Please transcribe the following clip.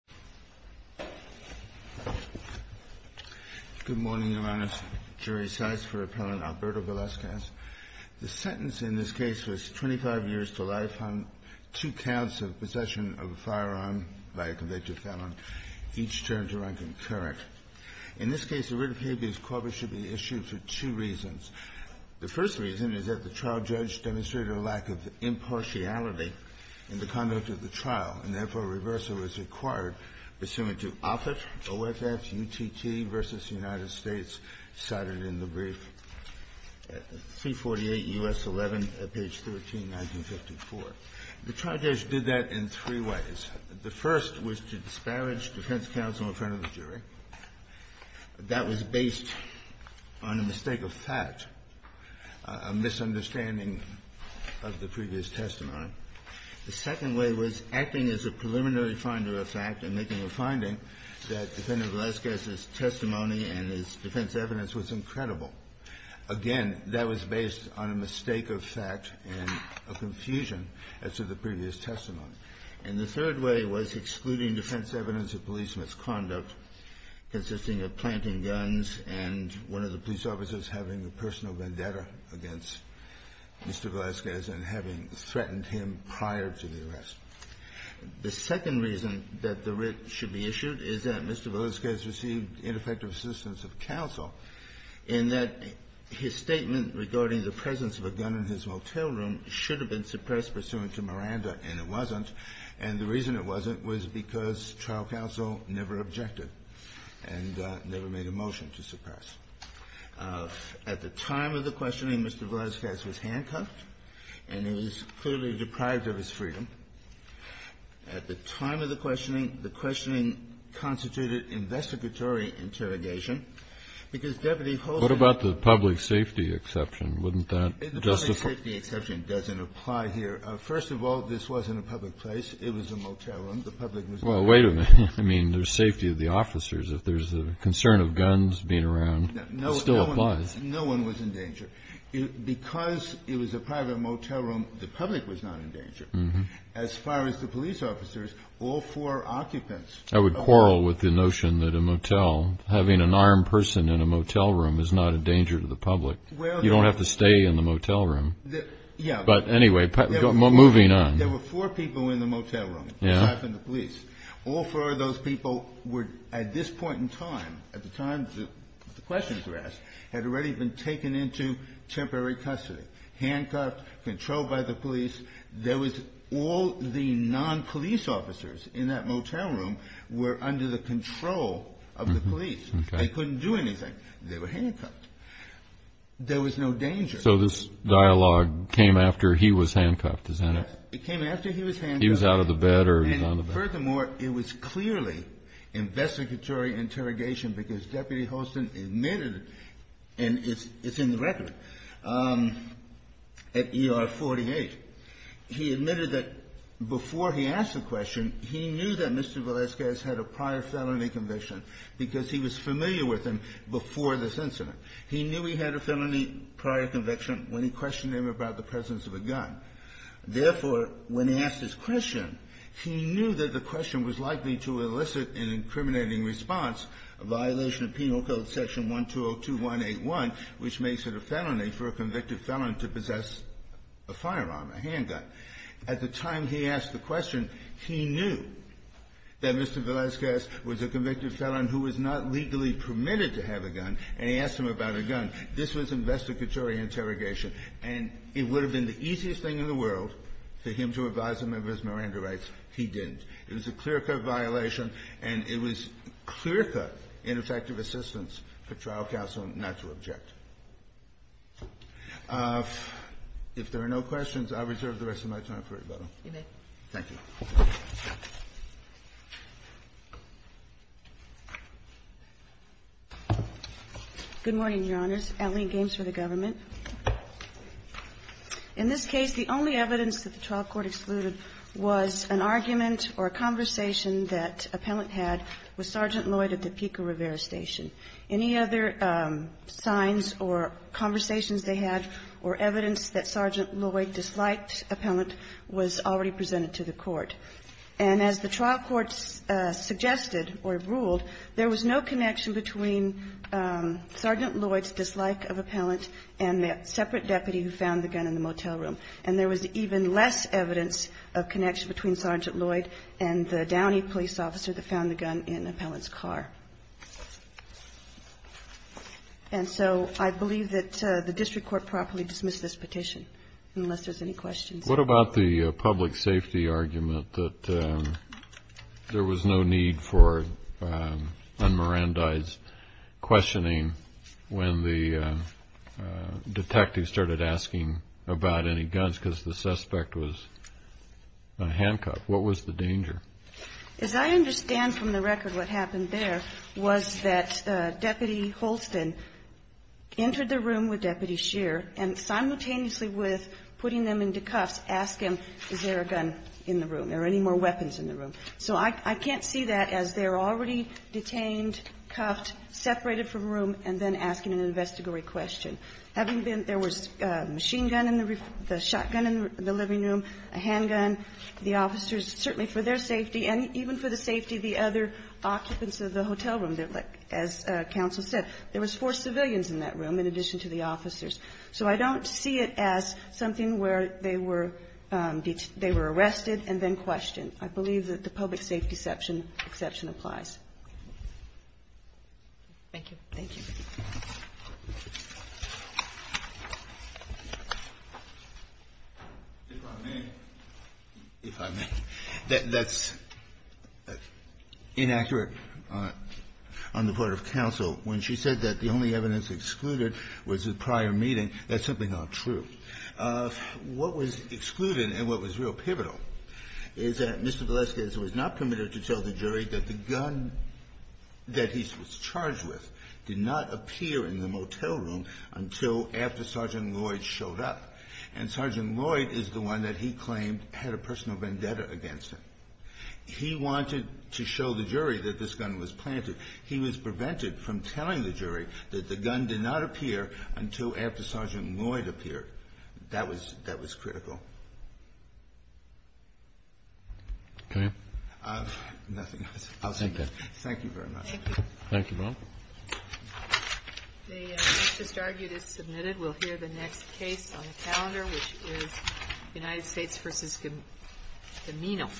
The sentence in this case was 25 years to life on two counts of possession of a firearm by a convicted felon, each term to run concurrent. In this case, the writ of habeas corpus should be issued for two reasons. The first reason is that the trial judge demonstrated a lack of impartiality in the conduct of the trial, and, therefore, a reversal was required pursuant to Offit, OFS, UTT v. United States, cited in the brief, 348 U.S. 11, page 13, 1954. The trial judge did that in three ways. The first was to disparage defense counsel in That was based on a mistake of fact, a misunderstanding of the previous testimony. The second way was acting as a preliminary finder of fact and making a finding that Defendant Villescaz's testimony and his defense evidence was incredible. Again, that was based on a mistake of fact and a confusion as to the previous testimony. And the third way was excluding defense evidence of police misconduct consisting of planting guns and one of the police officers having a personal vendetta against Mr. Villescaz and having threatened him prior to the arrest. The second reason that the writ should be issued is that Mr. Villescaz received ineffective assistance of counsel in that his statement regarding the presence of a gun in his motel room should have been suppressed pursuant to Miranda, and it wasn't, and the reason it wasn't was because trial counsel never objected and never made a motion to suppress. At the time of the questioning, Mr. Villescaz was handcuffed, and he was clearly deprived of his freedom. At the time of the questioning, the questioning constituted investigatory interrogation, because Deputy Hogan What about the public safety exception? Wouldn't that justify The public safety exception doesn't apply here. First of all, this wasn't a public place. It was a motel room. The public was Well, wait a minute. I mean, there's safety of the officers. If there's a concern of guns being around, no, still applies. No one was in danger because it was a private motel room. The public was not in danger. As far as the police officers, all four occupants, I would quarrel with the notion that a motel having an armed person in a motel room is not a danger to the public. You don't have to stay in the motel room. But anyway, moving on. There were four people in the motel room, aside from the police. All four of those people were, at this point in time, at the time the questions were asked, had already been taken into temporary custody, handcuffed, controlled by the police. There was all the non-police officers in that motel room were under the control of the police. They couldn't do anything. They were handcuffed. There was no danger. So this dialogue came after he was handcuffed, isn't it? It came after he was handcuffed. He was out of the bed or he was on the bed. And furthermore, it was clearly investigatory interrogation because Deputy Holston admitted, and it's in the record, at ER 48, he admitted that before he asked the question, he knew that Mr. Velazquez had a prior felony conviction because he was familiar with him before this incident. He knew he had a felony prior conviction when he questioned him about the presence of a gun. Therefore, when he asked his question, he knew that the question was likely to elicit an incriminating response, a violation of Penal Code Section 1202.181, which makes it a felony for a convicted felon to possess a firearm, a handgun. At the time he asked the question, he knew that Mr. Velazquez was a convicted and he asked him about a gun. This was investigatory interrogation. And it would have been the easiest thing in the world for him to advise a member of his Miranda rights. He didn't. It was a clear-cut violation, and it was clear-cut ineffective assistance for trial counsel not to object. If there are no questions, I reserve the rest of my time for rebuttal. Thank you. Good morning, Your Honors. Eileen Gaines for the government. In this case, the only evidence that the trial court excluded was an argument or a conversation that appellant had with Sergeant Lloyd at the Pico Rivera Station. Any other signs or conversations they had or evidence that Sergeant Lloyd disliked appellant was already presented to the court. And as the trial court suggested or ruled, there was no connection between Sergeant Lloyd's dislike of appellant and that separate deputy who found the gun in the motel room. And there was even less evidence of connection between Sergeant Lloyd and the Downey police officer that found the gun in appellant's car. And so I believe that the district court properly dismissed this petition, unless there's any questions. What about the public safety argument that there was no need for unmerandized questioning when the detective started asking about any guns because the suspect was a handcuff? What was the danger? As I understand from the record, what happened there was that Deputy Holston entered the room with Deputy Shearer and simultaneously with putting them into cuffs, asked him is there a gun in the room or any more weapons in the room. So I can't see that as they're already detained, cuffed, separated from room, and then asking an investigatory question. Having been there was a machine gun in the room, a shotgun in the living room, a handgun. The officers, certainly for their safety and even for the safety of the other occupants of the hotel room, as counsel said, there was four civilians in that room. In addition to the officers. So I don't see it as something where they were arrested and then questioned. I believe that the public safety exception applies. Thank you. Thank you. If I may, that's inaccurate on the part of counsel when she said that the only evidence that was excluded was the prior meeting. That's simply not true. What was excluded and what was real pivotal is that Mr. Valesquez was not permitted to tell the jury that the gun that he was charged with did not appear in the motel room until after Sergeant Lloyd showed up. And Sergeant Lloyd is the one that he claimed had a personal vendetta against him. He wanted to show the jury that this gun was planted. He was prevented from telling the jury that the gun did not appear until after Sergeant Lloyd appeared. That was critical. Nothing else. Thank you. Thank you very much. Thank you. Thank you, ma'am. They just argued it's submitted. We'll hear the next case on the calendar, which is United States v. Gamino.